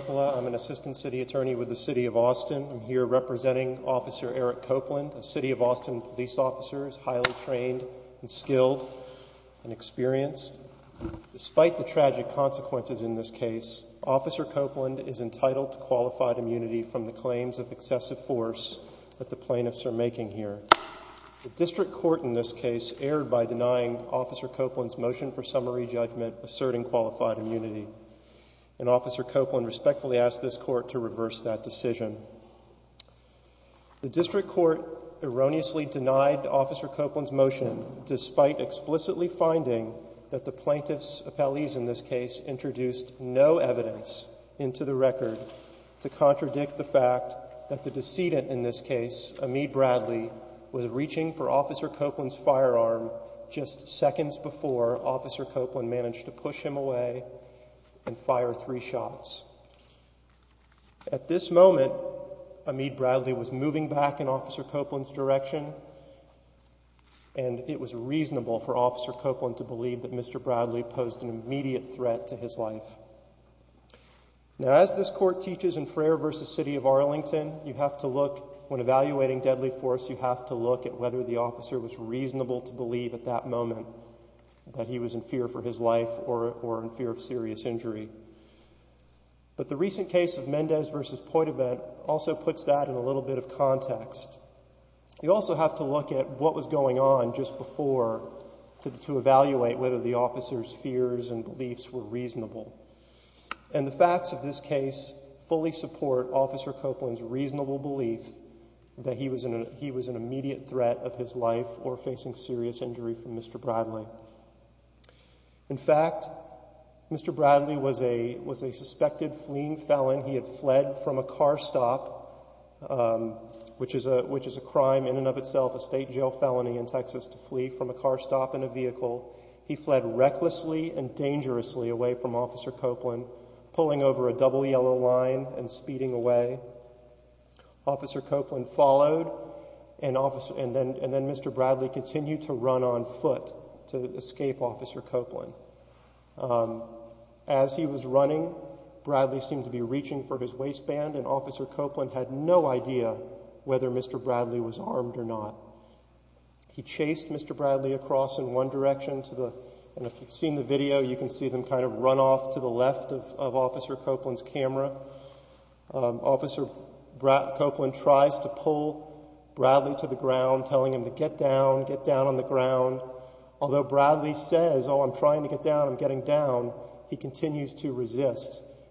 I'm an assistant city attorney with the City of Austin. I'm here representing Officer Eric Copeland, a City of Austin police officer who is highly trained and skilled and experienced. Despite the tragic consequences in this case, Officer Copeland is entitled to qualified immunity from the claims of excessive force that the plaintiffs are making here. The district court in this case erred by denying Officer Copeland's motion for summary judgment asserting qualified immunity and Officer Copeland respectfully asked this court to reverse that decision. The district court erroneously denied Officer Copeland's motion despite explicitly finding that the plaintiff's appellees in this case introduced no evidence into the record to contradict the fact that the decedent in this case, Amid Bradley, was reaching for Officer Copeland's firearm just seconds before Officer Copeland managed to push him away and fire three shots. At this moment, Amid Bradley was moving back in Officer Copeland's direction and it was reasonable for Officer Copeland to believe that Mr. Bradley posed an immediate threat to his life. Now, as this court teaches in Frayer v. City of Arlington, you have to look when evaluating deadly force, you have to look at whether the officer was reasonable to believe at that moment that he was in fear for his life or in fear of serious injury. But the recent case of Mendez v. Poitouvent also puts that in a little bit of context. You also have to look at what was going on just before to evaluate whether the officer's fears and beliefs were reasonable. And the facts of this case fully support Officer Copeland's reasonable belief that he was an immediate threat of his life or facing serious injury from Mr. Bradley. In fact, Mr. Bradley was a suspected fleeing felon. He had fled from a car stop, which is a crime in and of itself, a state jail felony in Texas to flee from a car stop in a vehicle. He fled recklessly and dangerously away from Officer Copeland, pulling over a double yellow line and speeding away. Officer Copeland followed and then Mr. Bradley continued to run on foot to escape Officer Copeland. As he was running, Bradley seemed to be reaching for his waistband, and Officer Copeland had no idea whether Mr. Bradley was armed or not. He chased Mr. Bradley across in one direction, and if you've seen the video, you can see them kind of run off to the left of Officer Copeland's camera. Officer Copeland tries to pull Bradley to the ground, telling him to get down, get down on the ground. Although Bradley says, oh, I'm trying to get down, I'm getting down, he continues to run.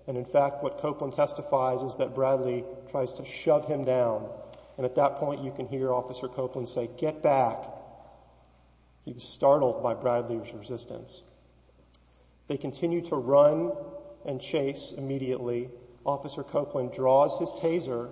In fact, what Copeland testifies is that Bradley tries to shove him down, and at that point you can hear Officer Copeland say, get back. He was startled by Bradley's resistance. They continue to run and chase immediately. Officer Copeland draws his taser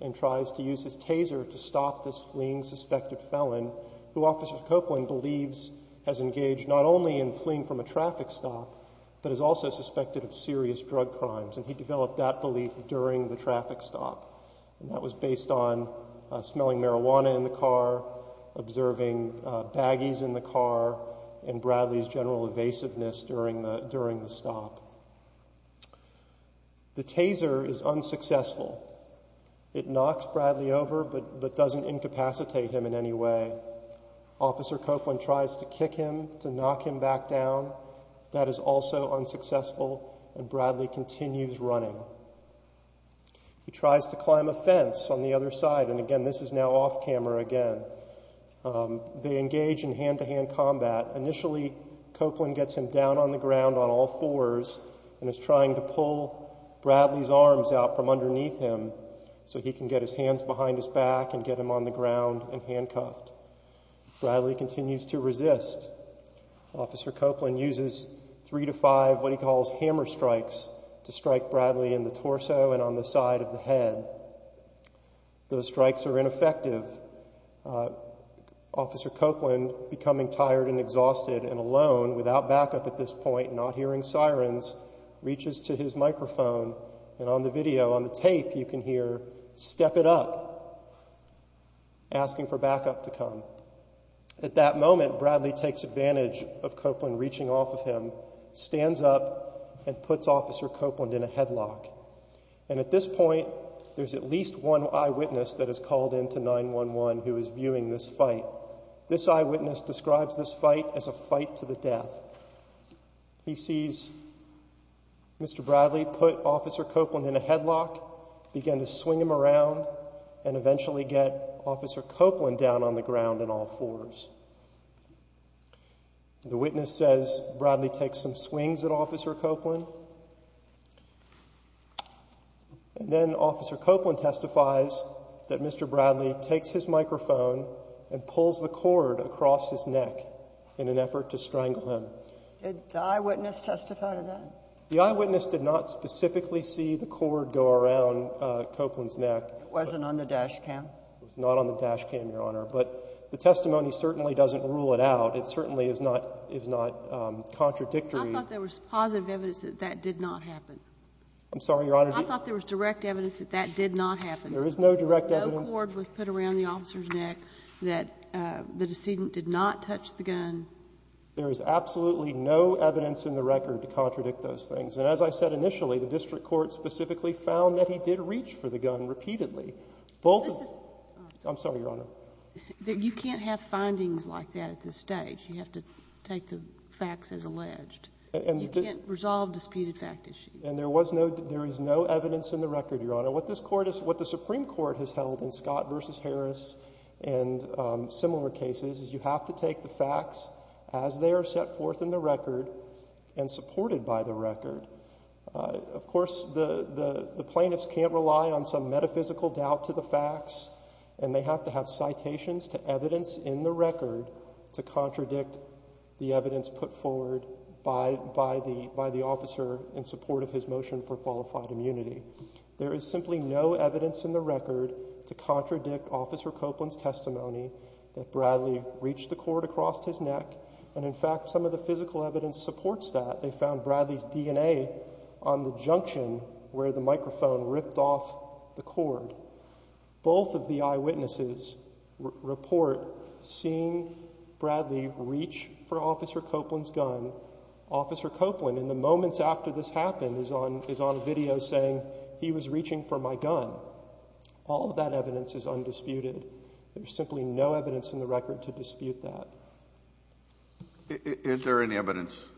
and tries to use his taser to stop this fleeing suspected felon, who Officer Copeland believes has engaged not only in fleeing from a traffic stop, but is also suspected of serious drug crimes, and he developed that belief during the traffic stop. That was based on smelling marijuana in the car, observing baggies in the car, and Bradley's general evasiveness during the stop. The taser is unsuccessful. It knocks Bradley over, but doesn't incapacitate him in any way. Officer Copeland tries to kick him to knock him back down. That is also unsuccessful, and Bradley continues running. He tries to climb a fence on the other side, and again, this is now off camera again. They engage in hand-to-hand combat. Initially, Copeland gets him down on the ground on all fours and is trying to pull Bradley's arms out from underneath him so he can get his hands behind his back and get him on the ground and handcuffed. Bradley continues to resist. Officer Copeland uses three to five what he calls hammer strikes to strike Bradley in the torso and on the side of the head. Those strikes are ineffective. Officer Copeland, becoming tired and exhausted and alone without backup at this point, not hearing sirens, reaches to his microphone, and on the video, on the tape, you can hear, step it up, asking for backup to come. At that moment, Bradley takes advantage of Copeland reaching off of him, stands up, and puts Officer Copeland in a headlock, and at this point, there's at least one eyewitness that is called in to 9-1-1 who is viewing this fight. This eyewitness describes this fight as a fight to the death. He sees Mr. Bradley put Officer Copeland in a headlock, began to swing him around, and eventually get Officer Copeland down on the ground on all fours. The witness says Bradley takes some swings at Officer Copeland, and then Officer Copeland testifies that Mr. Bradley takes his microphone and pulls the cord across his neck in an effort to strangle him. Did the eyewitness testify to that? The eyewitness did not specifically see the cord go around Copeland's neck. Wasn't on the dash cam? Was not on the dash cam, Your Honor. But the testimony certainly doesn't rule it out. It certainly is not contradictory. I thought there was positive evidence that that did not happen. I'm sorry, Your Honor. I thought there was direct evidence that that did not happen. There is no direct evidence. No cord was put around the officer's neck, that the decedent did not touch the gun. There is absolutely no evidence in the record to contradict those things. And as I said initially, the district court specifically found that he did reach for the gun repeatedly. I'm sorry, Your Honor. You can't have findings like that at this stage. You have to take the facts as alleged. You can't resolve disputed fact issues. And there is no evidence in the record, Your Honor. What the Supreme Court has held in Scott cases is you have to take the facts as they are set forth in the record and supported by the record. Of course, the plaintiffs can't rely on some metaphysical doubt to the facts. And they have to have citations to evidence in the record to contradict the evidence put forward by the officer in support of his motion for qualified immunity. There is simply no evidence in the record to contradict Officer Copeland's testimony that Bradley reached the cord across his neck. And, in fact, some of the physical evidence supports that. They found Bradley's DNA on the junction where the microphone ripped off the cord. Both of the eyewitnesses report seeing Bradley reach for Officer Copeland's gun. Officer Copeland, in the moments after this happened, is on a video saying he was reaching for my gun. All of that evidence is undisputed. There is simply no evidence in the record to dispute that. JUSTICE KENNEDY Is there any evidence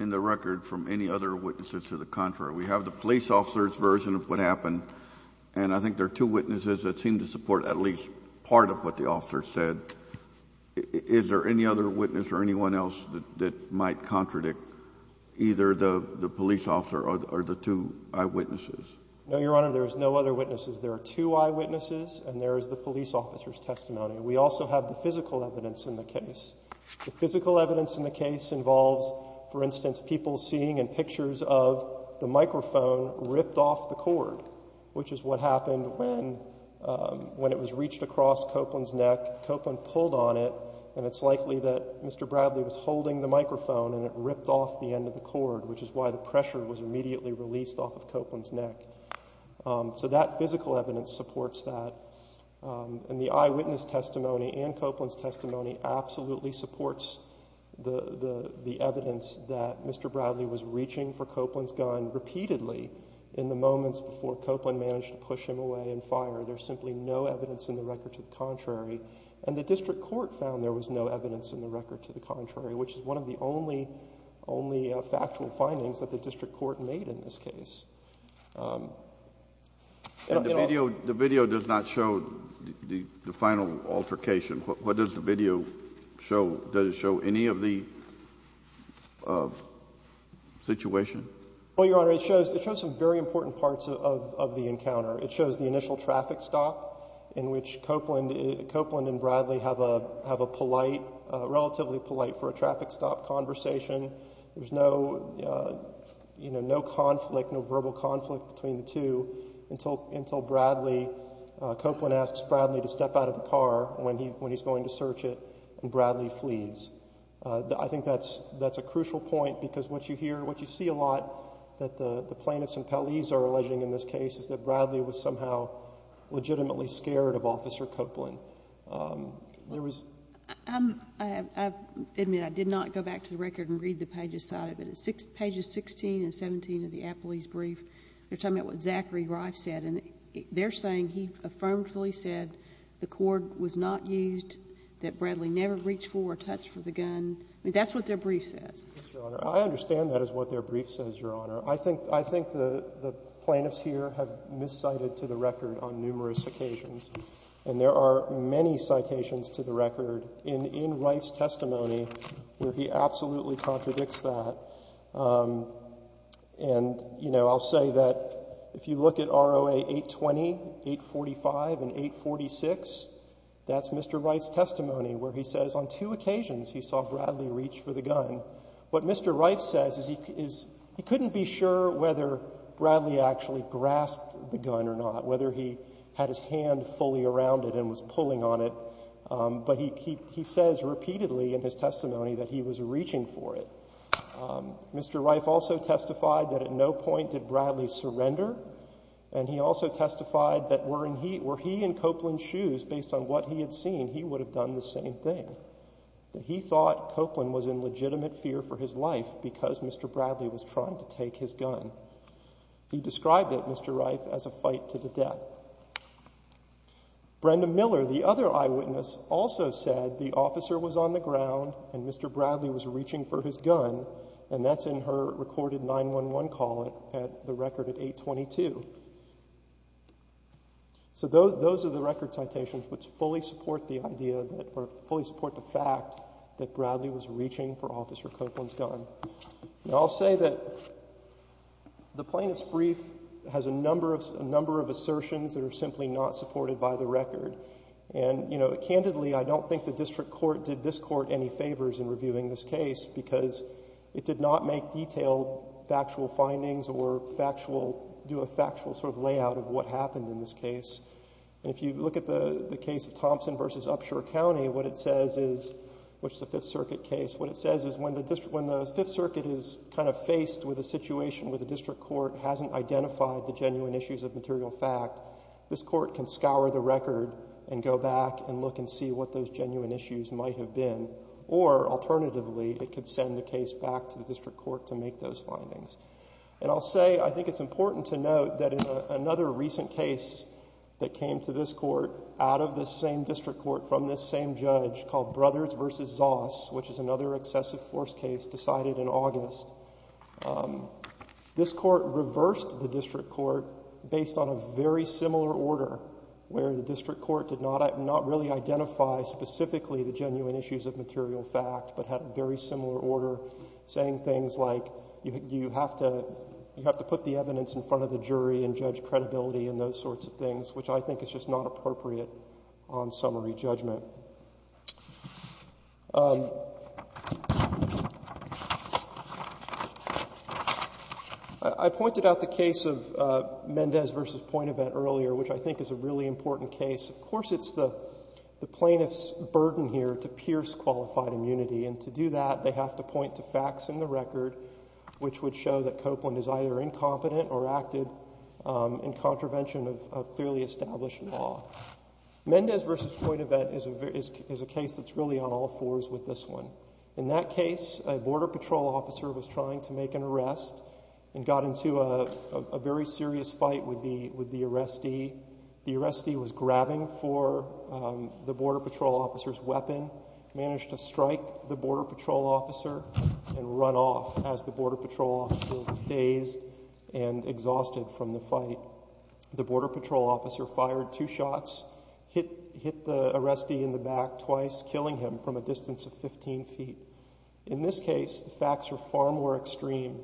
in the record from any other witnesses to the contrary? We have the police officer's version of what happened. And I think there are two witnesses that seem to support at least part of what the officer said. Is there any other witness or anyone else that might contradict either the police officer or the two eyewitnesses? No, Your Honor, there is no other witnesses. There are two eyewitnesses and there is the police officer's testimony. We also have the physical evidence in the case. The physical evidence in the case involves, for instance, people seeing in pictures of the microphone ripped off the cord, which is what happened when it was reached across Copeland's neck. Copeland pulled on it, and it's likely that Mr. Bradley was holding the microphone and it ripped off the end of the cord, which is why the pressure was immediately released off of Copeland's neck. So that physical evidence supports that. And the eyewitness testimony and Copeland's testimony absolutely supports the evidence that Mr. Bradley was reaching for Copeland's gun repeatedly in the moments before Copeland managed to push him away and fire. There's simply no evidence in the record to the contrary. And the district court found there was no evidence in the record to the contrary, which is one of the only factual findings that the district court made in this case. The video does not show the final altercation. What does the video show? Does it show any of the situation? Well, Your Honor, it shows some very important parts of the encounter. It shows the initial traffic stop in which Copeland and Bradley have a polite, relatively polite for a traffic stop. There's no conflict, no verbal conflict between the two until Bradley, Copeland asks Bradley to step out of the car when he's going to search it, and Bradley flees. I think that's a crucial point because what you hear, what you see a lot that the plaintiffs and appellees are alleging in this case is that Bradley was somehow legitimately scared of Officer Copeland. I admit, I did not go back to the record and read the pages cited, but pages 16 and 17 of the appellee's brief, they're talking about what Zachary Rife said, and they're saying he affirmatively said the cord was not used, that Bradley never reached for or touched for the gun. I mean, that's what their brief says. Yes, Your Honor. I understand that is what their brief says, Your Honor. I think the plaintiffs here have miscited to the record on numerous occasions, and there are many citations to the record in Rife's testimony where he absolutely contradicts that. And, you know, I'll say that if you look at ROA 820, 845, and 846, that's Mr. Rife's testimony where he says on two occasions he saw Bradley reach for the gun. What Mr. Rife says is he actually grasped the gun or not, whether he had his hand fully around it and was pulling on it, but he says repeatedly in his testimony that he was reaching for it. Mr. Rife also testified that at no point did Bradley surrender, and he also testified that were he in Copeland's shoes based on what he had seen, he would have done the same thing, that he thought Copeland was in legitimate fear for his life because Mr. Bradley was trying to take his life. He described it, Mr. Rife, as a fight to the death. Brenda Miller, the other eyewitness, also said the officer was on the ground and Mr. Bradley was reaching for his gun, and that's in her recorded 911 call at the record of 822. So those are the record citations which fully support the idea that, or fully support the fact that Bradley was reaching for Officer Copeland's gun. Now, I'll say that the Plaintiff's brief has a number of assertions that are simply not supported by the record. And, you know, candidly, I don't think the district court did this Court any favors in reviewing this case because it did not make detailed factual findings or factual, do a factual sort of layout of what happened in this case. If you look at the case of Thompson v. Upshur County, what it says is, which is a Fifth Circuit case, what it says is when the Fifth Circuit is kind of faced with a situation where the district court hasn't identified the genuine issues of material fact, this court can scour the record and go back and look and see what those genuine issues might have been. Or, alternatively, it could send the case back to the district court to make those findings. And I'll say, I think it's important to note that in another recent case that came to this court out of this same district court from this same judge called Brothers v. Zoss, which is another excessive force case decided in August, this court reversed the district court based on a very similar order where the district court did not really identify specifically the genuine issues of material fact, but had a very similar order saying things like you have to put the evidence in front of the jury and judge credibility and those sorts of things, which I think is just not appropriate on summary judgment. I pointed out the case of Mendez v. Pointevent earlier, which I think is a really important case. Of course, it's the plaintiff's burden here to pierce qualified immunity, and to do that they have to point to facts in the record which would show that Copeland is either incompetent or acted in contravention of clearly established law. Mendez v. Pointevent is a case that's really on all fours with this one. In that case, a Border Patrol officer was trying to make an arrest and got into a very serious fight with the arrestee. The arrestee was grabbing for the Border Patrol officer's weapon, managed to strike the Border Patrol officer and run off as the Border Patrol officer was dazed and exhausted from the fight. The Border Patrol officer fired two shots, hit the arrestee in the back twice, killing him from a distance of 15 feet. In this case, the facts are far more extreme.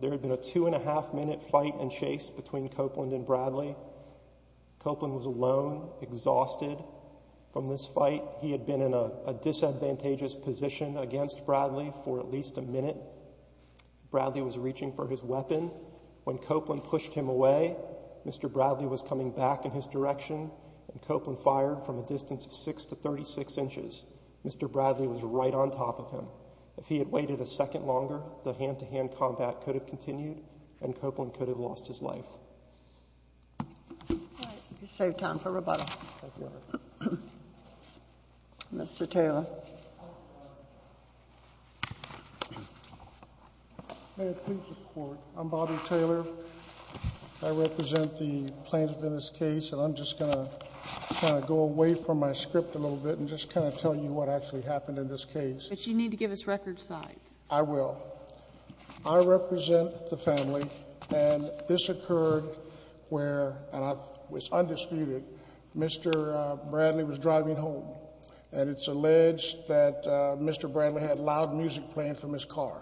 There had been a two and a half minute fight and chase between Copeland and Bradley. Copeland was alone, exhausted from this fight. He had been in a disadvantageous position against Bradley for at least a minute. Bradley was reaching for his weapon. When Copeland pushed him away, Mr. Bradley was coming back in his direction and Copeland fired from a distance of 6 to 36 inches. Mr. Bradley was right on top of him. If he had waited a second longer, the hand-to-hand combat could have continued and Copeland could have lost his life. All right. You saved time for rebuttal. Thank you, Your Honor. Mr. Taylor. May it please the Court, I'm Bobby Taylor. I represent the plaintiff in this case and I'm just going to kind of go away from my script a little bit and just kind of tell you what actually happened in this case. But you need to give us record sides. I will. I represent the family and this occurred where, and I was undisputed, Mr. Bradley was driving home and it's alleged that Mr. Bradley had loud music playing from his car.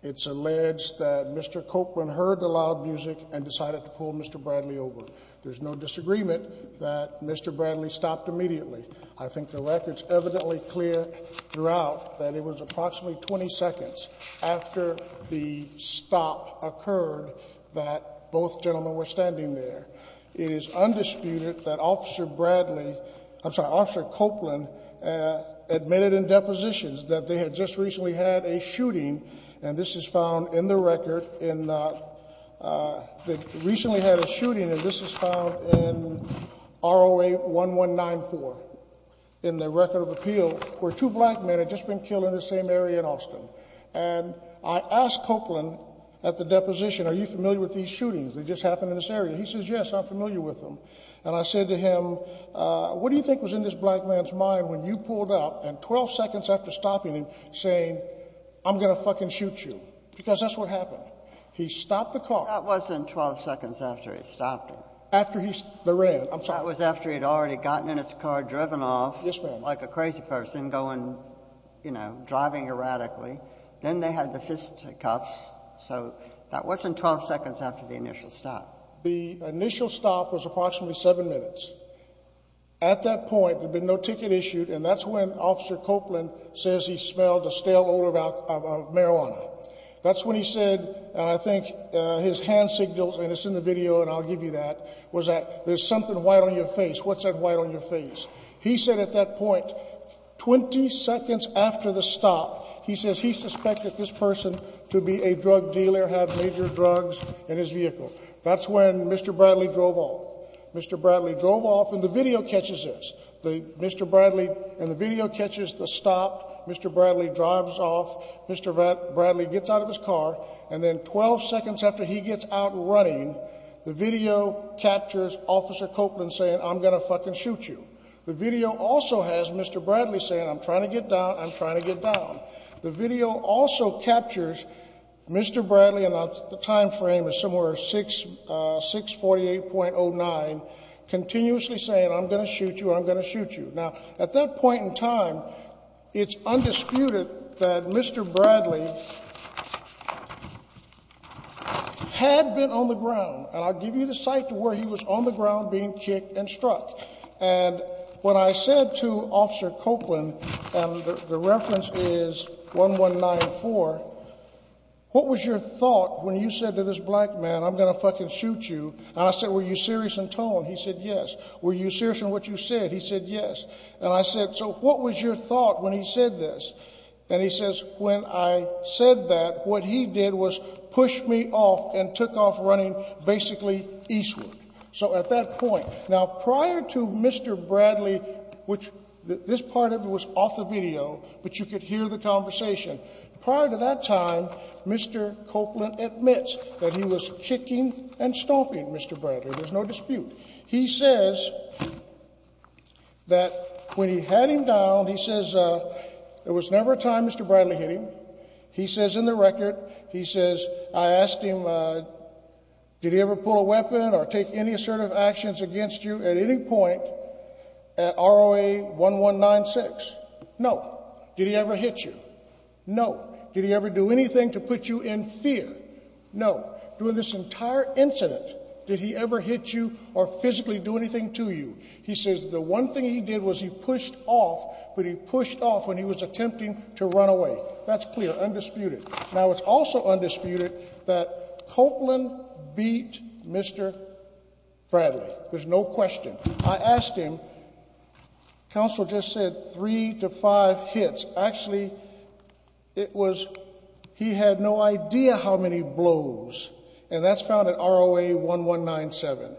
It's alleged that Mr. Copeland heard the loud music and decided to pull Mr. Bradley over. There's no disagreement that Mr. Bradley stopped immediately. I think the record's evidently clear throughout that it was approximately 20 seconds after the stop occurred that both gentlemen were standing there. It is undisputed that Officer Bradley, I'm sorry, Officer Copeland admitted in depositions that they had just recently had a shooting and this is found in the record in, they recently had a shooting and this is found in ROA 1194 in the record of appeal where two black men had just been killed in the same area in Austin. And I asked Copeland at the deposition, are you familiar with these shootings that just happened in this area? He says, yes, I'm familiar with them. And I said to him, what do you think was in this black man's mind when you pulled out and 12 seconds after stopping him saying, I'm going to fucking shoot you? Because that's what happened. He stopped the car. That wasn't 12 seconds after he stopped it. After he ran. I'm sorry. That was after he had already gotten in his car, driven off. Yes, ma'am. Like a crazy person going, you know, driving erratically. Then they had the fist cups. So that wasn't 12 seconds after the initial stop. The initial stop was approximately 7 minutes. At that point, there had been no ticket issued, and that's when Officer Copeland says he smelled a stale odor of marijuana. That's when he said, and I think his hand signals, and it's in the video and I'll give you that, was that there's something white on your face. What's that white on your face? White. 20 seconds after the stop, he says he suspected this person to be a drug dealer, have major drugs in his vehicle. That's when Mr. Bradley drove off. Mr. Bradley drove off and the video catches this. Mr. Bradley, and the video catches the stop. Mr. Bradley drives off. Mr. Bradley gets out of his car, and then 12 seconds after he gets out running, the video captures Officer Copeland saying, I'm going to fucking shoot you. The video also has Mr. Bradley saying, I'm trying to get down, I'm trying to get down. The video also captures Mr. Bradley, and the time frame is somewhere 648.09, continuously saying, I'm going to shoot you, I'm going to shoot you. Now, at that point in time, it's undisputed that Mr. Bradley had been on the ground, and I'll give you the site to where he was on the ground being kicked and struck. And when I said to Officer Copeland, and the reference is 1194, what was your thought when you said to this black man, I'm going to fucking shoot you, and I said, were you serious in tone? He said, yes. Were you serious in what you said? He said, yes. And I said, so what was your thought when he said this? And he says, when I said that, what he did was push me off and took off running basically eastward. So at that point, now, prior to Mr. Bradley, which this part of it was off the video, but you could hear the conversation. Prior to that time, Mr. Copeland admits that he was kicking and stomping Mr. Bradley. There's no dispute. He says that when he had him down, he says there was never a time Mr. Bradley hit him. He says in the record, he says, I asked him, did he ever pull a weapon or take any assertive actions against you at any point at ROA 1196? No. Did he ever hit you? No. Did he ever do anything to put you in fear? No. During this entire incident, did he ever hit you or physically do anything to you? He says the one thing he did was he pushed off, but he pushed off when he was attempting to run away. That's clear, undisputed. Now, it's also undisputed that Copeland beat Mr. Bradley. There's no question. I asked him, counsel just said three to five hits. Actually, it was he had no idea how many blows, and that's found at ROA 1197.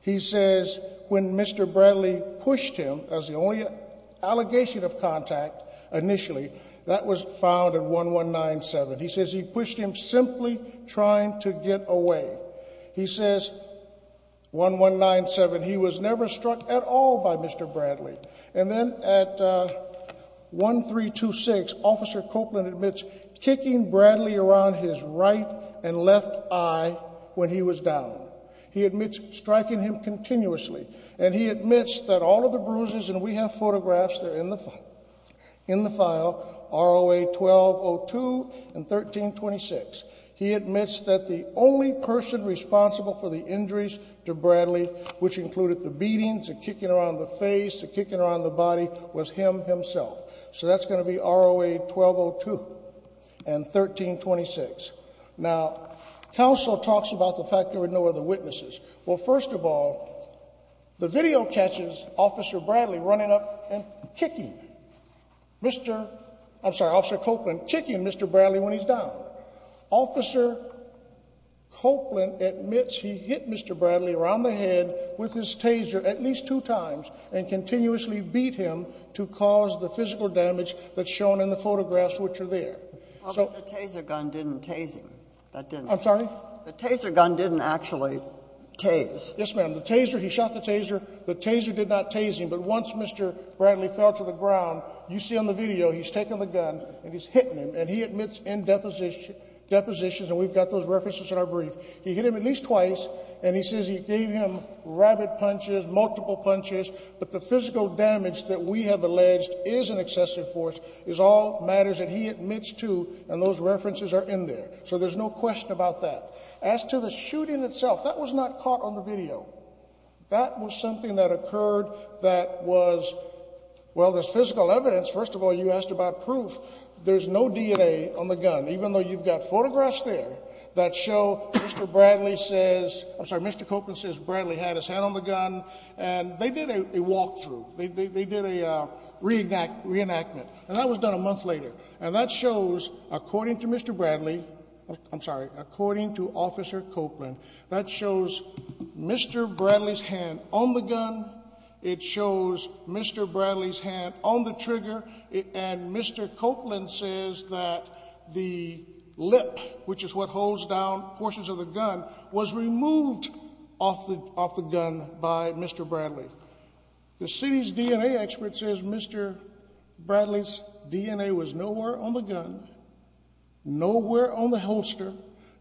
He says when Mr. Bradley pushed him, that was the only allegation of contact initially, that was found at 1197. He says he pushed him simply trying to get away. He says 1197, he was never struck at all by Mr. Bradley. And then at 1326, Officer Copeland admits kicking Bradley around his right and left eye when he was down. He admits striking him continuously, and he admits that all of the bruises, and we have photographs that are in the file, ROA 1202 and 1326. He admits that the only person responsible for the injuries to Bradley, which included the beatings, the kicking around the face, the kicking around the body, was him himself. So that's going to be ROA 1202 and 1326. Now, counsel talks about the fact there were no other witnesses. Well, first of all, the video catches Officer Bradley running up and kicking Mr. I'm sorry, Officer Copeland kicking Mr. Bradley when he's down. Officer Copeland admits he hit Mr. Bradley around the head with his taser at least two times and continuously beat him to cause the physical damage that's shown in the photographs which are there. But the taser gun didn't tase him. I'm sorry? The taser gun didn't actually tase. Yes, ma'am. The taser, he shot the taser. The taser did not tase him. But once Mr. Bradley fell to the ground, you see on the video he's taking the gun and he's hitting him, and he admits in depositions, and we've got those references in our brief, he hit him at least twice, and he says he gave him rabid punches, multiple punches, but the physical damage that we have alleged is an excessive force is all matters that he admits to, and those references are in there. So there's no question about that. As to the shooting itself, that was not caught on the video. That was something that occurred that was, well, there's physical evidence. First of all, you asked about proof. There's no DNA on the gun, even though you've got photographs there that show Mr. Bradley says, I'm sorry, Mr. Copeland says Bradley had his hand on the gun, and they did a walkthrough. They did a reenactment, and that was done a month later. And that shows, according to Mr. Bradley, I'm sorry, according to Officer Copeland, that shows Mr. Bradley's hand on the gun. It shows Mr. Bradley's hand on the trigger, and Mr. Copeland says that the lip, which is what holds down portions of the gun, was removed off the gun by Mr. Bradley. The city's DNA expert says Mr. Bradley's DNA was nowhere on the gun, nowhere on the holster,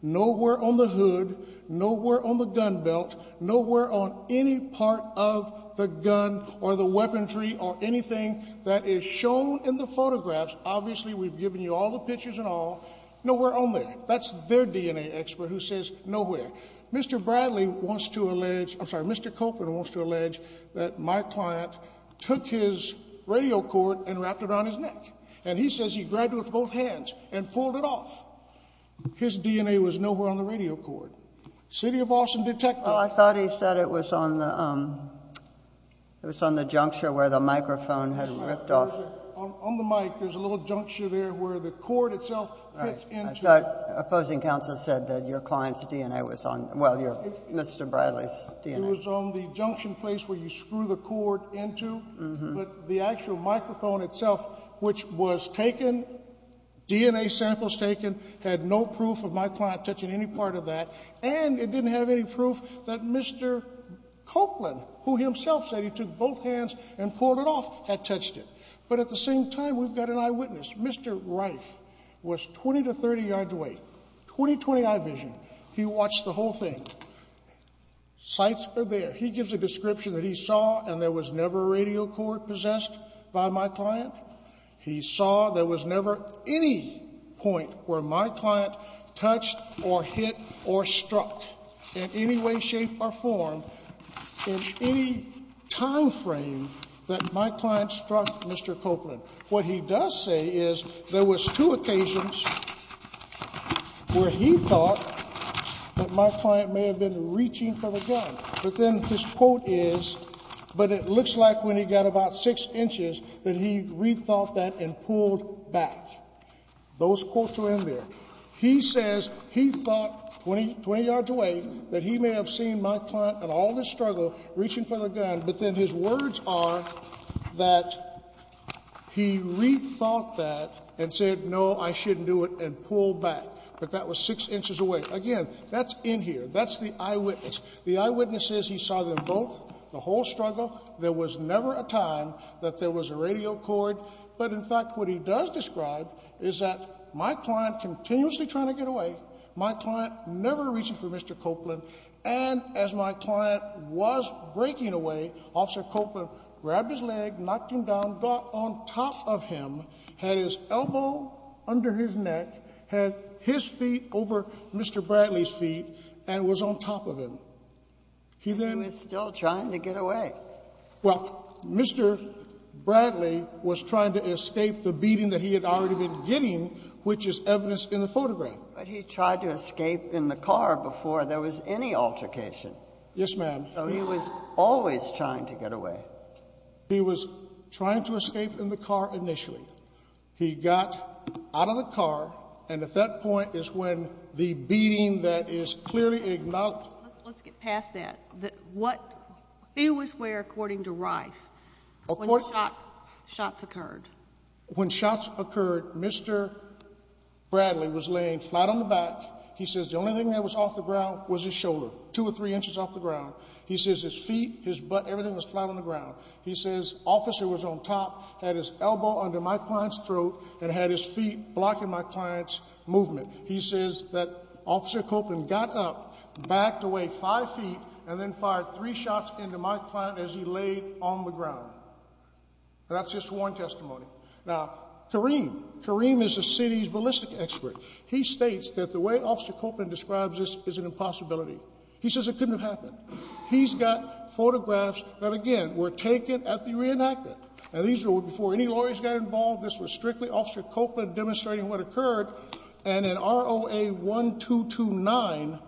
nowhere on the hood, nowhere on the gun belt, nowhere on any part of the gun or the weaponry or anything that is shown in the photographs. Obviously, we've given you all the pictures and all. Nowhere on there. That's their DNA expert who says nowhere. Mr. Bradley wants to allege, I'm sorry, Mr. Copeland wants to allege that my client took his radio cord and wrapped it around his neck, and he says he grabbed it with both hands and pulled it off. His DNA was nowhere on the radio cord. City of Austin detectives. Well, I thought he said it was on the juncture where the microphone had ripped off. On the mic, there's a little juncture there where the cord itself fits into. Opposing counsel said that your client's DNA was on, well, Mr. Bradley's DNA. It was on the junction place where you screw the cord into, but the actual microphone itself, which was taken, DNA samples taken, had no proof of my client touching any part of that, and it didn't have any proof that Mr. Copeland, who himself said he took both hands and pulled it off, had touched it. But at the same time, we've got an eyewitness. Mr. Reif was 20 to 30 yards away, 20-20 eye vision. He watched the whole thing. Sites are there. He gives a description that he saw, and there was never a radio cord possessed by my client. He saw there was never any point where my client touched or hit or struck in any way, shape, or form in any time frame that my client struck Mr. Copeland. What he does say is there was two occasions where he thought that my client may have been reaching for the gun. But then his quote is, but it looks like when he got about six inches that he rethought that and pulled back. Those quotes were in there. He says he thought, 20 yards away, that he may have seen my client in all this struggle reaching for the gun, but then his words are that he rethought that and said, no, I shouldn't do it, and pulled back. But that was six inches away. Again, that's in here. That's the eyewitness. The eyewitness says he saw them both, the whole struggle. There was never a time that there was a radio cord. But, in fact, what he does describe is that my client continuously trying to get away, my client never reaching for Mr. Copeland, and as my client was breaking away, Officer Copeland grabbed his leg, knocked him down, got on top of him, had his elbow under his neck, had his feet over Mr. Bradley's feet, and was on top of him. He then was still trying to get away. Well, Mr. Bradley was trying to escape the beating that he had already been getting, which is evidenced in the photograph. But he tried to escape in the car before there was any altercation. Yes, ma'am. So he was always trying to get away. He was trying to escape in the car initially. He got out of the car, and at that point is when the beating that is clearly acknowledged. Let's get past that. He was where, according to Reif, when the shots occurred? When shots occurred, Mr. Bradley was laying flat on the back. He says the only thing that was off the ground was his shoulder, two or three inches off the ground. He says his feet, his butt, everything was flat on the ground. He says Officer was on top, had his elbow under my client's throat, and had his feet blocking my client's movement. He says that Officer Copeland got up, backed away five feet, and then fired three shots into my client as he laid on the ground. That's his sworn testimony. Now, Kareem. Kareem is the city's ballistic expert. He states that the way Officer Copeland describes this is an impossibility. He says it couldn't have happened. He's got photographs that, again, were taken at the reenactment. Now, these were before any lawyers got involved. This was strictly Officer Copeland demonstrating what occurred. And in ROA-1229,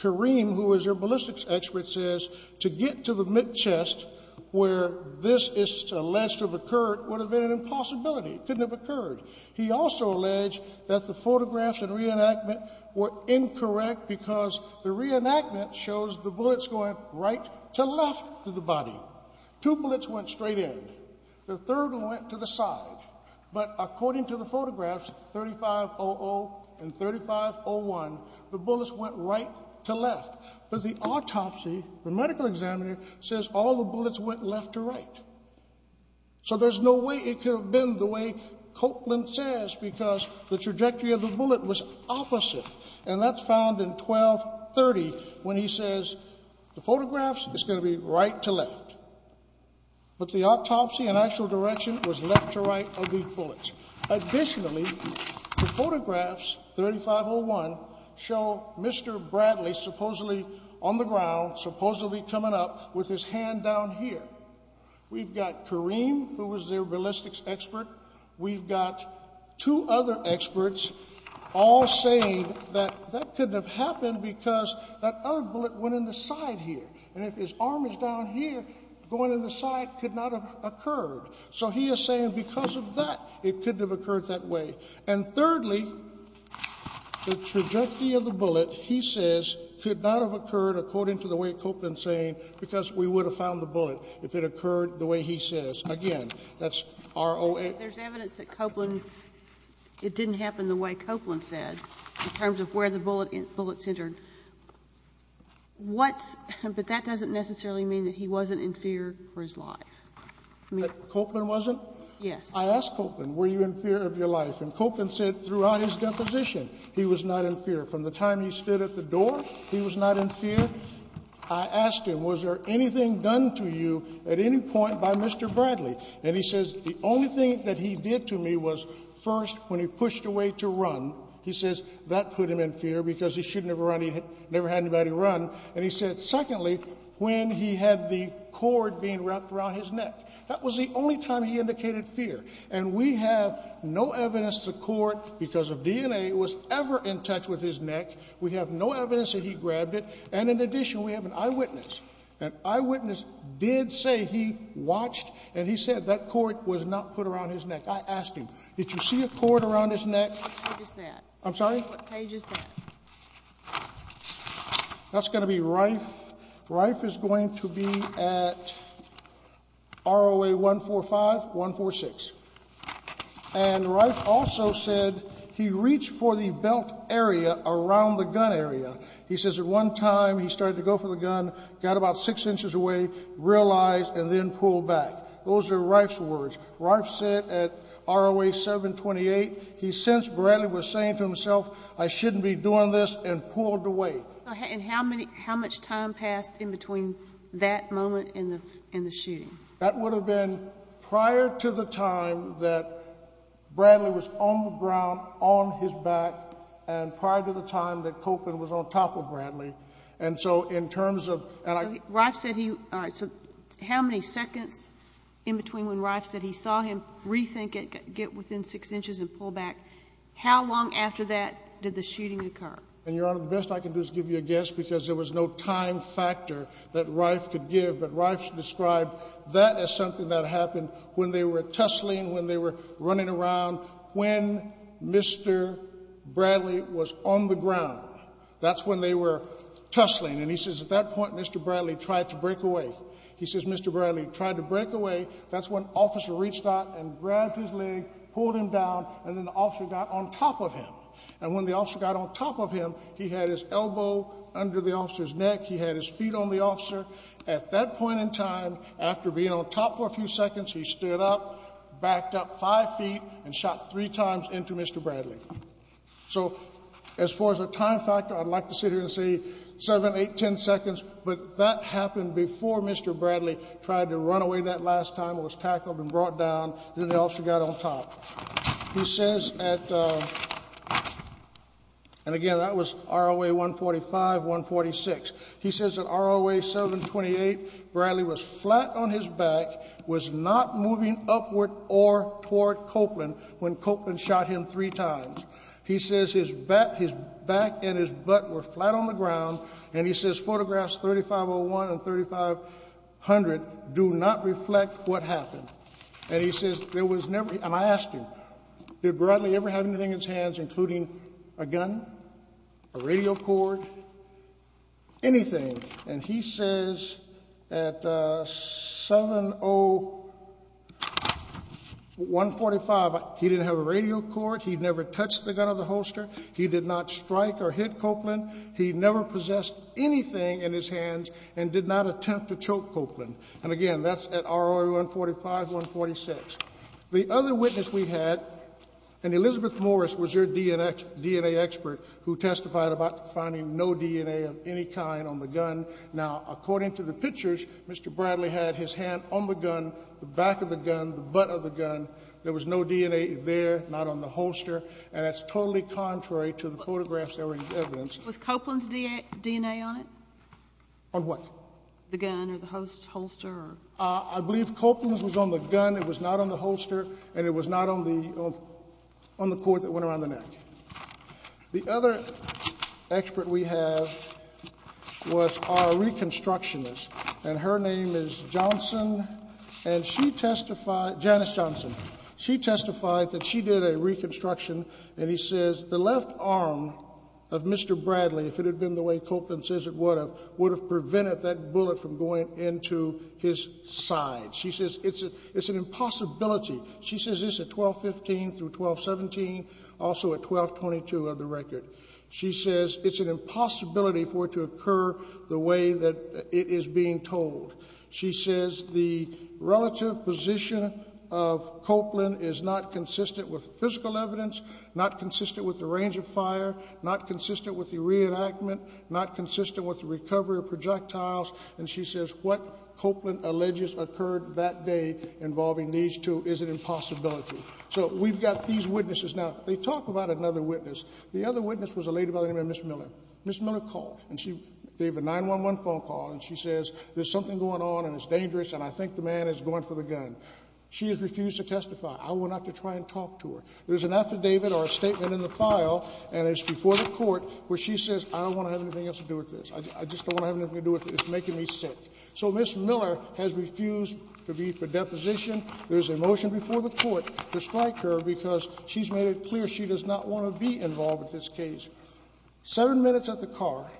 Kareem, who is your ballistics expert, says to get to the mid-chest where this is alleged to have occurred would have been an impossibility. It couldn't have occurred. He also alleged that the photographs and reenactment were incorrect because the reenactment shows the bullets going right to left to the body. Two bullets went straight in. The third one went to the side. But according to the photographs, 35-00 and 35-01, the bullets went right to left. But the autopsy, the medical examiner, says all the bullets went left to right. So there's no way it could have been the way Copeland says because the trajectory of the bullet was opposite. And that's found in 12-30 when he says the photographs is going to be right to left. But the autopsy and actual direction was left to right of the bullets. Additionally, the photographs, 35-01, show Mr. Bradley supposedly on the ground, supposedly coming up with his hand down here. We've got Kareem, who was their ballistics expert. We've got two other experts all saying that that couldn't have happened because that other bullet went in the side here. And if his arm is down here, going in the side could not have occurred. So he is saying because of that, it couldn't have occurred that way. And thirdly, the trajectory of the bullet, he says, could not have occurred according to the way Copeland is saying because we would have found the bullet if it occurred the way he says. Again, that's ROA. There's evidence that Copeland, it didn't happen the way Copeland said, in terms of where the bullets entered. What's, but that doesn't necessarily mean that he wasn't in fear for his life. Copeland wasn't? Yes. I asked Copeland, were you in fear of your life? And Copeland said throughout his deposition he was not in fear. From the time he stood at the door, he was not in fear. I asked him, was there anything done to you at any point by Mr. Bradley? And he says the only thing that he did to me was, first, when he pushed away to run, he says that put him in fear because he shouldn't have run. He never had anybody run. And he said, secondly, when he had the cord being wrapped around his neck. That was the only time he indicated fear. And we have no evidence the cord, because of DNA, was ever in touch with his neck. We have no evidence that he grabbed it. And in addition, we have an eyewitness. An eyewitness did say he watched and he said that cord was not put around his neck. I asked him, did you see a cord around his neck? What page is that? I'm sorry? What page is that? That's going to be Reif. Reif is going to be at ROA 145, 146. And Reif also said he reached for the belt area around the gun area. He says at one time he started to go for the gun, got about six inches away, realized, and then pulled back. Those are Reif's words. Reif said at ROA 728, he sensed Bradley was saying to himself, I shouldn't be doing this, and pulled away. And how much time passed in between that moment and the shooting? That would have been prior to the time that Bradley was on the ground, on his back, and prior to the time that Copeland was on top of Bradley. And so in terms of ‑‑ Reif said he ‑‑ all right, so how many seconds in between when Reif said he saw him rethink it, get within six inches and pull back, how long after that did the shooting occur? And, Your Honor, the best I can do is give you a guess because there was no time factor that Reif could give. But Reif described that as something that happened when they were tussling, when they were running around, when Mr. Bradley was on the ground. That's when they were tussling. And he says at that point Mr. Bradley tried to break away. He says Mr. Bradley tried to break away. That's when officer reached out and grabbed his leg, pulled him down, and then the officer got on top of him. And when the officer got on top of him, he had his elbow under the officer's neck. He had his feet on the officer. At that point in time, after being on top for a few seconds, he stood up, backed up five feet, and shot three times into Mr. Bradley. So as far as a time factor, I'd like to sit here and say seven, eight, ten seconds, but that happened before Mr. Bradley tried to run away that last time and was tackled and brought down. Then the officer got on top. He says at ‑‑ and, again, that was ROA 145, 146. He says at ROA 728, Bradley was flat on his back, was not moving upward or toward Copeland when Copeland shot him three times. He says his back and his butt were flat on the ground, and he says photographs 3501 and 3500 do not reflect what happened. And he says there was never ‑‑ and I asked him, did Bradley ever have anything in his hands, including a gun, a radio cord, anything? And he says at 70145, he didn't have a radio cord. He never touched the gun or the holster. He did not strike or hit Copeland. He never possessed anything in his hands and did not attempt to choke Copeland. And, again, that's at ROA 145, 146. The other witness we had, and Elizabeth Morris was your DNA expert, who testified about finding no DNA of any kind on the gun. Now, according to the pictures, Mr. Bradley had his hand on the gun, the back of the gun, the butt of the gun. There was no DNA there, not on the holster. And that's totally contrary to the photographs that were in evidence. Was Copeland's DNA on it? On what? The gun or the holster. I believe Copeland's was on the gun. It was not on the holster, and it was not on the cord that went around the neck. The other expert we have was our reconstructionist, and her name is Johnson. And she testified, Janice Johnson, she testified that she did a reconstruction, and he says the left arm of Mr. Bradley, if it had been the way Copeland says it would have, would have prevented that bullet from going into his side. She says it's an impossibility. She says this at 1215 through 1217, also at 1222 of the record. She says it's an impossibility for it to occur the way that it is being told. She says the relative position of Copeland is not consistent with physical evidence, not consistent with the range of fire, not consistent with the reenactment, not consistent with the recovery of projectiles. And she says what Copeland alleges occurred that day involving these two is an impossibility. So we've got these witnesses. Now, they talk about another witness. The other witness was a lady by the name of Ms. Miller. Ms. Miller called, and she gave a 911 phone call, and she says there's something going on, and it's dangerous, and I think the man is going for the gun. She has refused to testify. I will not try to talk to her. There's an affidavit or a statement in the file, and it's before the court, where she says I don't want to have anything else to do with this. I just don't want to have anything to do with it. It's making me sick. So Ms. Miller has refused to be for deposition. There's a motion before the court to strike her because she's made it clear she does not want to be involved in this case. Seven minutes at the car,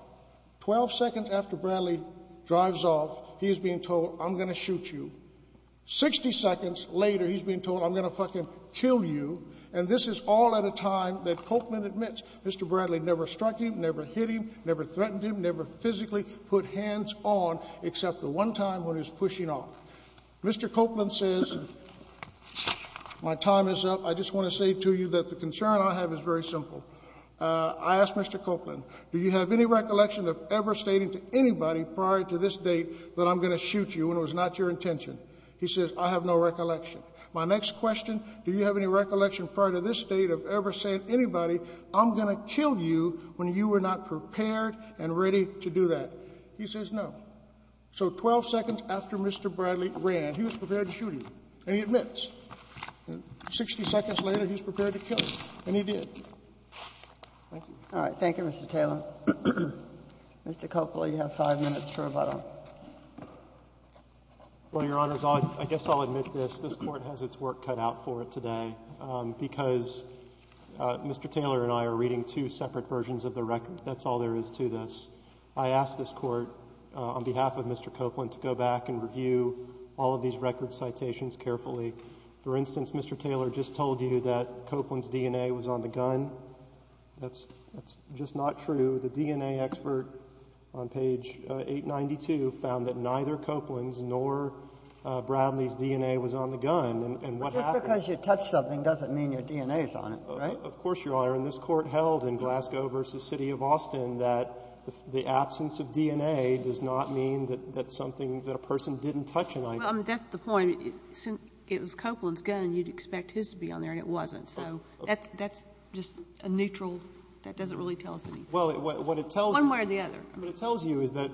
12 seconds after Bradley drives off, he is being told I'm going to shoot you. Sixty seconds later, he's being told I'm going to fucking kill you, and this is all at a time that Copeland admits Mr. Bradley never struck him, never hit him, never threatened him, never physically put hands on except the one time when he was pushing off. Mr. Copeland says my time is up. I just want to say to you that the concern I have is very simple. I asked Mr. Copeland, do you have any recollection of ever stating to anybody prior to this date that I'm going to shoot you, and it was not your intention? He says I have no recollection. My next question, do you have any recollection prior to this date of ever saying to anybody I'm going to kill you when you were not prepared and ready to do that? He says no. So 12 seconds after Mr. Bradley ran, he was prepared to shoot him, and he admits. Sixty seconds later, he's prepared to kill him, and he did. Thank you. All right. Thank you, Mr. Taylor. Mr. Copeland, you have five minutes for rebuttal. Well, Your Honors, I guess I'll admit this. This Court has its work cut out for it today because Mr. Taylor and I are reading two separate versions of the record. That's all there is to this. I ask this Court, on behalf of Mr. Copeland, to go back and review all of these record citations carefully. For instance, Mr. Taylor just told you that Copeland's DNA was on the gun. That's just not true. The DNA expert on page 892 found that neither Copeland's nor Bradley's DNA was on the gun. And what happened? Well, just because you touch something doesn't mean your DNA is on it, right? Of course, Your Honor. And this Court held in Glasgow v. City of Austin that the absence of DNA does not mean that something that a person didn't touch an item. Well, that's the point. It was Copeland's gun, and you'd expect his to be on there, and it wasn't. So that's just a neutral – that doesn't really tell us anything. Well, what it tells you – One way or the other. What it tells you is that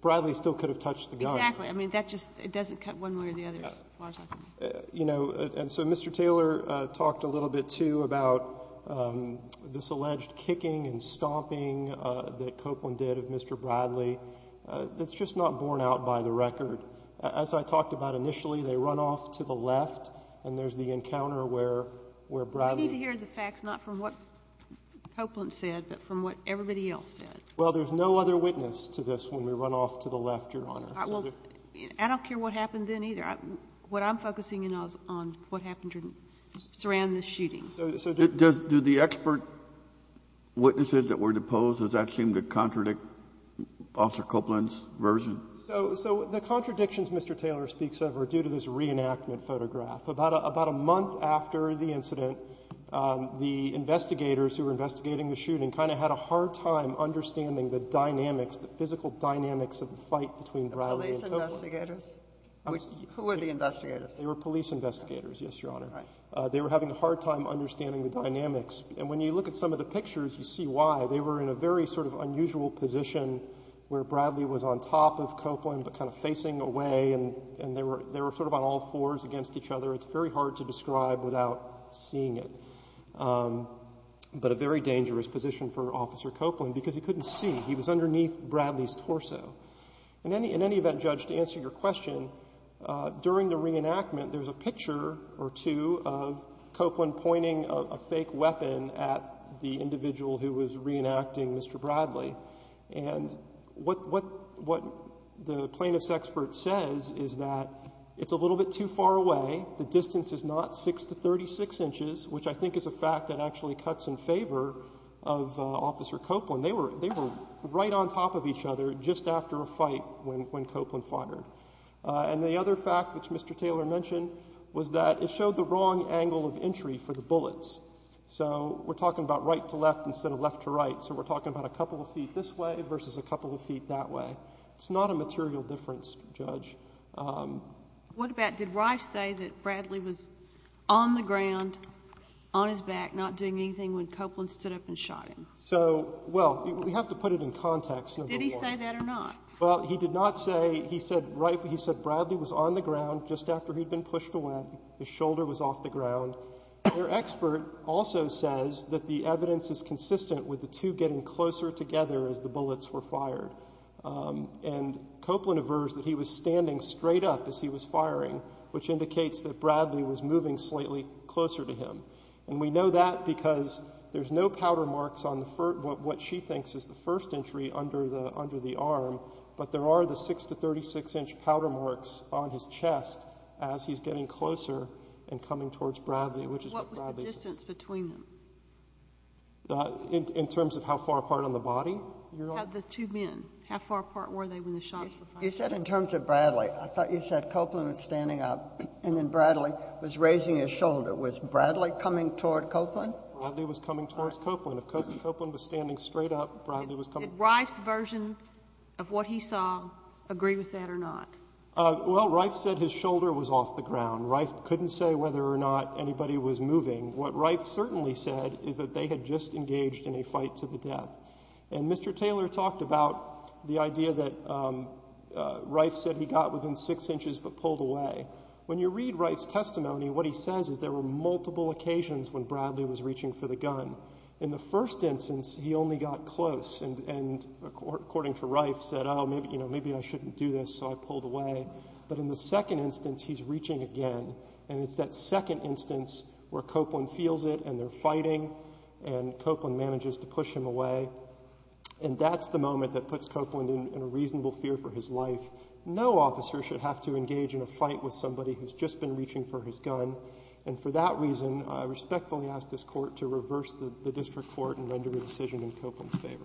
Bradley still could have touched the gun. Exactly. I mean, that just – it doesn't cut one way or the other. You know, and so Mr. Taylor talked a little bit, too, about this alleged kicking and stomping that Copeland did of Mr. Bradley. That's just not borne out by the record. As I talked about initially, they run off to the left, and there's the encounter where Bradley – Well, there's no other witness to this when we run off to the left, Your Honor. Well, I don't care what happened then, either. What I'm focusing on is what happened surrounding the shooting. So do the expert witnesses that were deposed, does that seem to contradict Officer Copeland's version? So the contradictions Mr. Taylor speaks of are due to this reenactment photograph. About a month after the incident, the investigators who were investigating the shooting kind of had a hard time understanding the dynamics, the physical dynamics of the fight between Bradley and Copeland. The police investigators? Who were the investigators? They were police investigators, yes, Your Honor. They were having a hard time understanding the dynamics. And when you look at some of the pictures, you see why. They were in a very sort of unusual position where Bradley was on top of Copeland but kind of facing away, and they were sort of on all fours against each other. It's very hard to describe without seeing it. But a very dangerous position for Officer Copeland because he couldn't see. He was underneath Bradley's torso. In any event, Judge, to answer your question, during the reenactment, there's a picture or two of Copeland pointing a fake weapon at the individual who was reenacting Mr. Bradley. And what the plaintiff's expert says is that it's a little bit too far away. The distance is not 6 to 36 inches, which I think is a fact that actually cuts in favor of Officer Copeland. They were right on top of each other just after a fight when Copeland fired. And the other fact, which Mr. Taylor mentioned, was that it showed the wrong angle of entry for the bullets. So we're talking about right to left instead of left to right. So we're talking about a couple of feet this way versus a couple of feet that way. It's not a material difference, Judge. What about did Reif say that Bradley was on the ground, on his back, not doing anything when Copeland stood up and shot him? So, well, we have to put it in context. Did he say that or not? Well, he did not say. He said Bradley was on the ground just after he'd been pushed away. His shoulder was off the ground. Their expert also says that the evidence is consistent with the two getting closer together as the bullets were fired. And Copeland aversed that he was standing straight up as he was firing, which indicates that Bradley was moving slightly closer to him. And we know that because there's no powder marks on what she thinks is the first entry under the arm, but there are the 6 to 36-inch powder marks on his chest as he's getting closer and coming towards Bradley. What was the distance between them? In terms of how far apart on the body? Of the two men, how far apart were they when the shots were fired? You said in terms of Bradley. I thought you said Copeland was standing up and then Bradley was raising his shoulder. Was Bradley coming toward Copeland? Bradley was coming towards Copeland. If Copeland was standing straight up, Bradley was coming. Did Reif's version of what he saw agree with that or not? Well, Reif said his shoulder was off the ground. Reif couldn't say whether or not anybody was moving. What Reif certainly said is that they had just engaged in a fight to the death. And Mr. Taylor talked about the idea that Reif said he got within 6 inches but pulled away. When you read Reif's testimony, what he says is there were multiple occasions when Bradley was reaching for the gun. In the first instance, he only got close. And according to Reif, said, oh, maybe I shouldn't do this, so I pulled away. But in the second instance, he's reaching again. And it's that second instance where Copeland feels it and they're fighting and Copeland manages to push him away. And that's the moment that puts Copeland in a reasonable fear for his life. No officer should have to engage in a fight with somebody who's just been reaching for his gun. And for that reason, I respectfully ask this Court to reverse the district court and render the decision in Copeland's favor.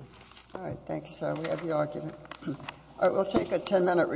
All right. Thank you, sir. We have your argument. All right. We'll take a 10-minute recess.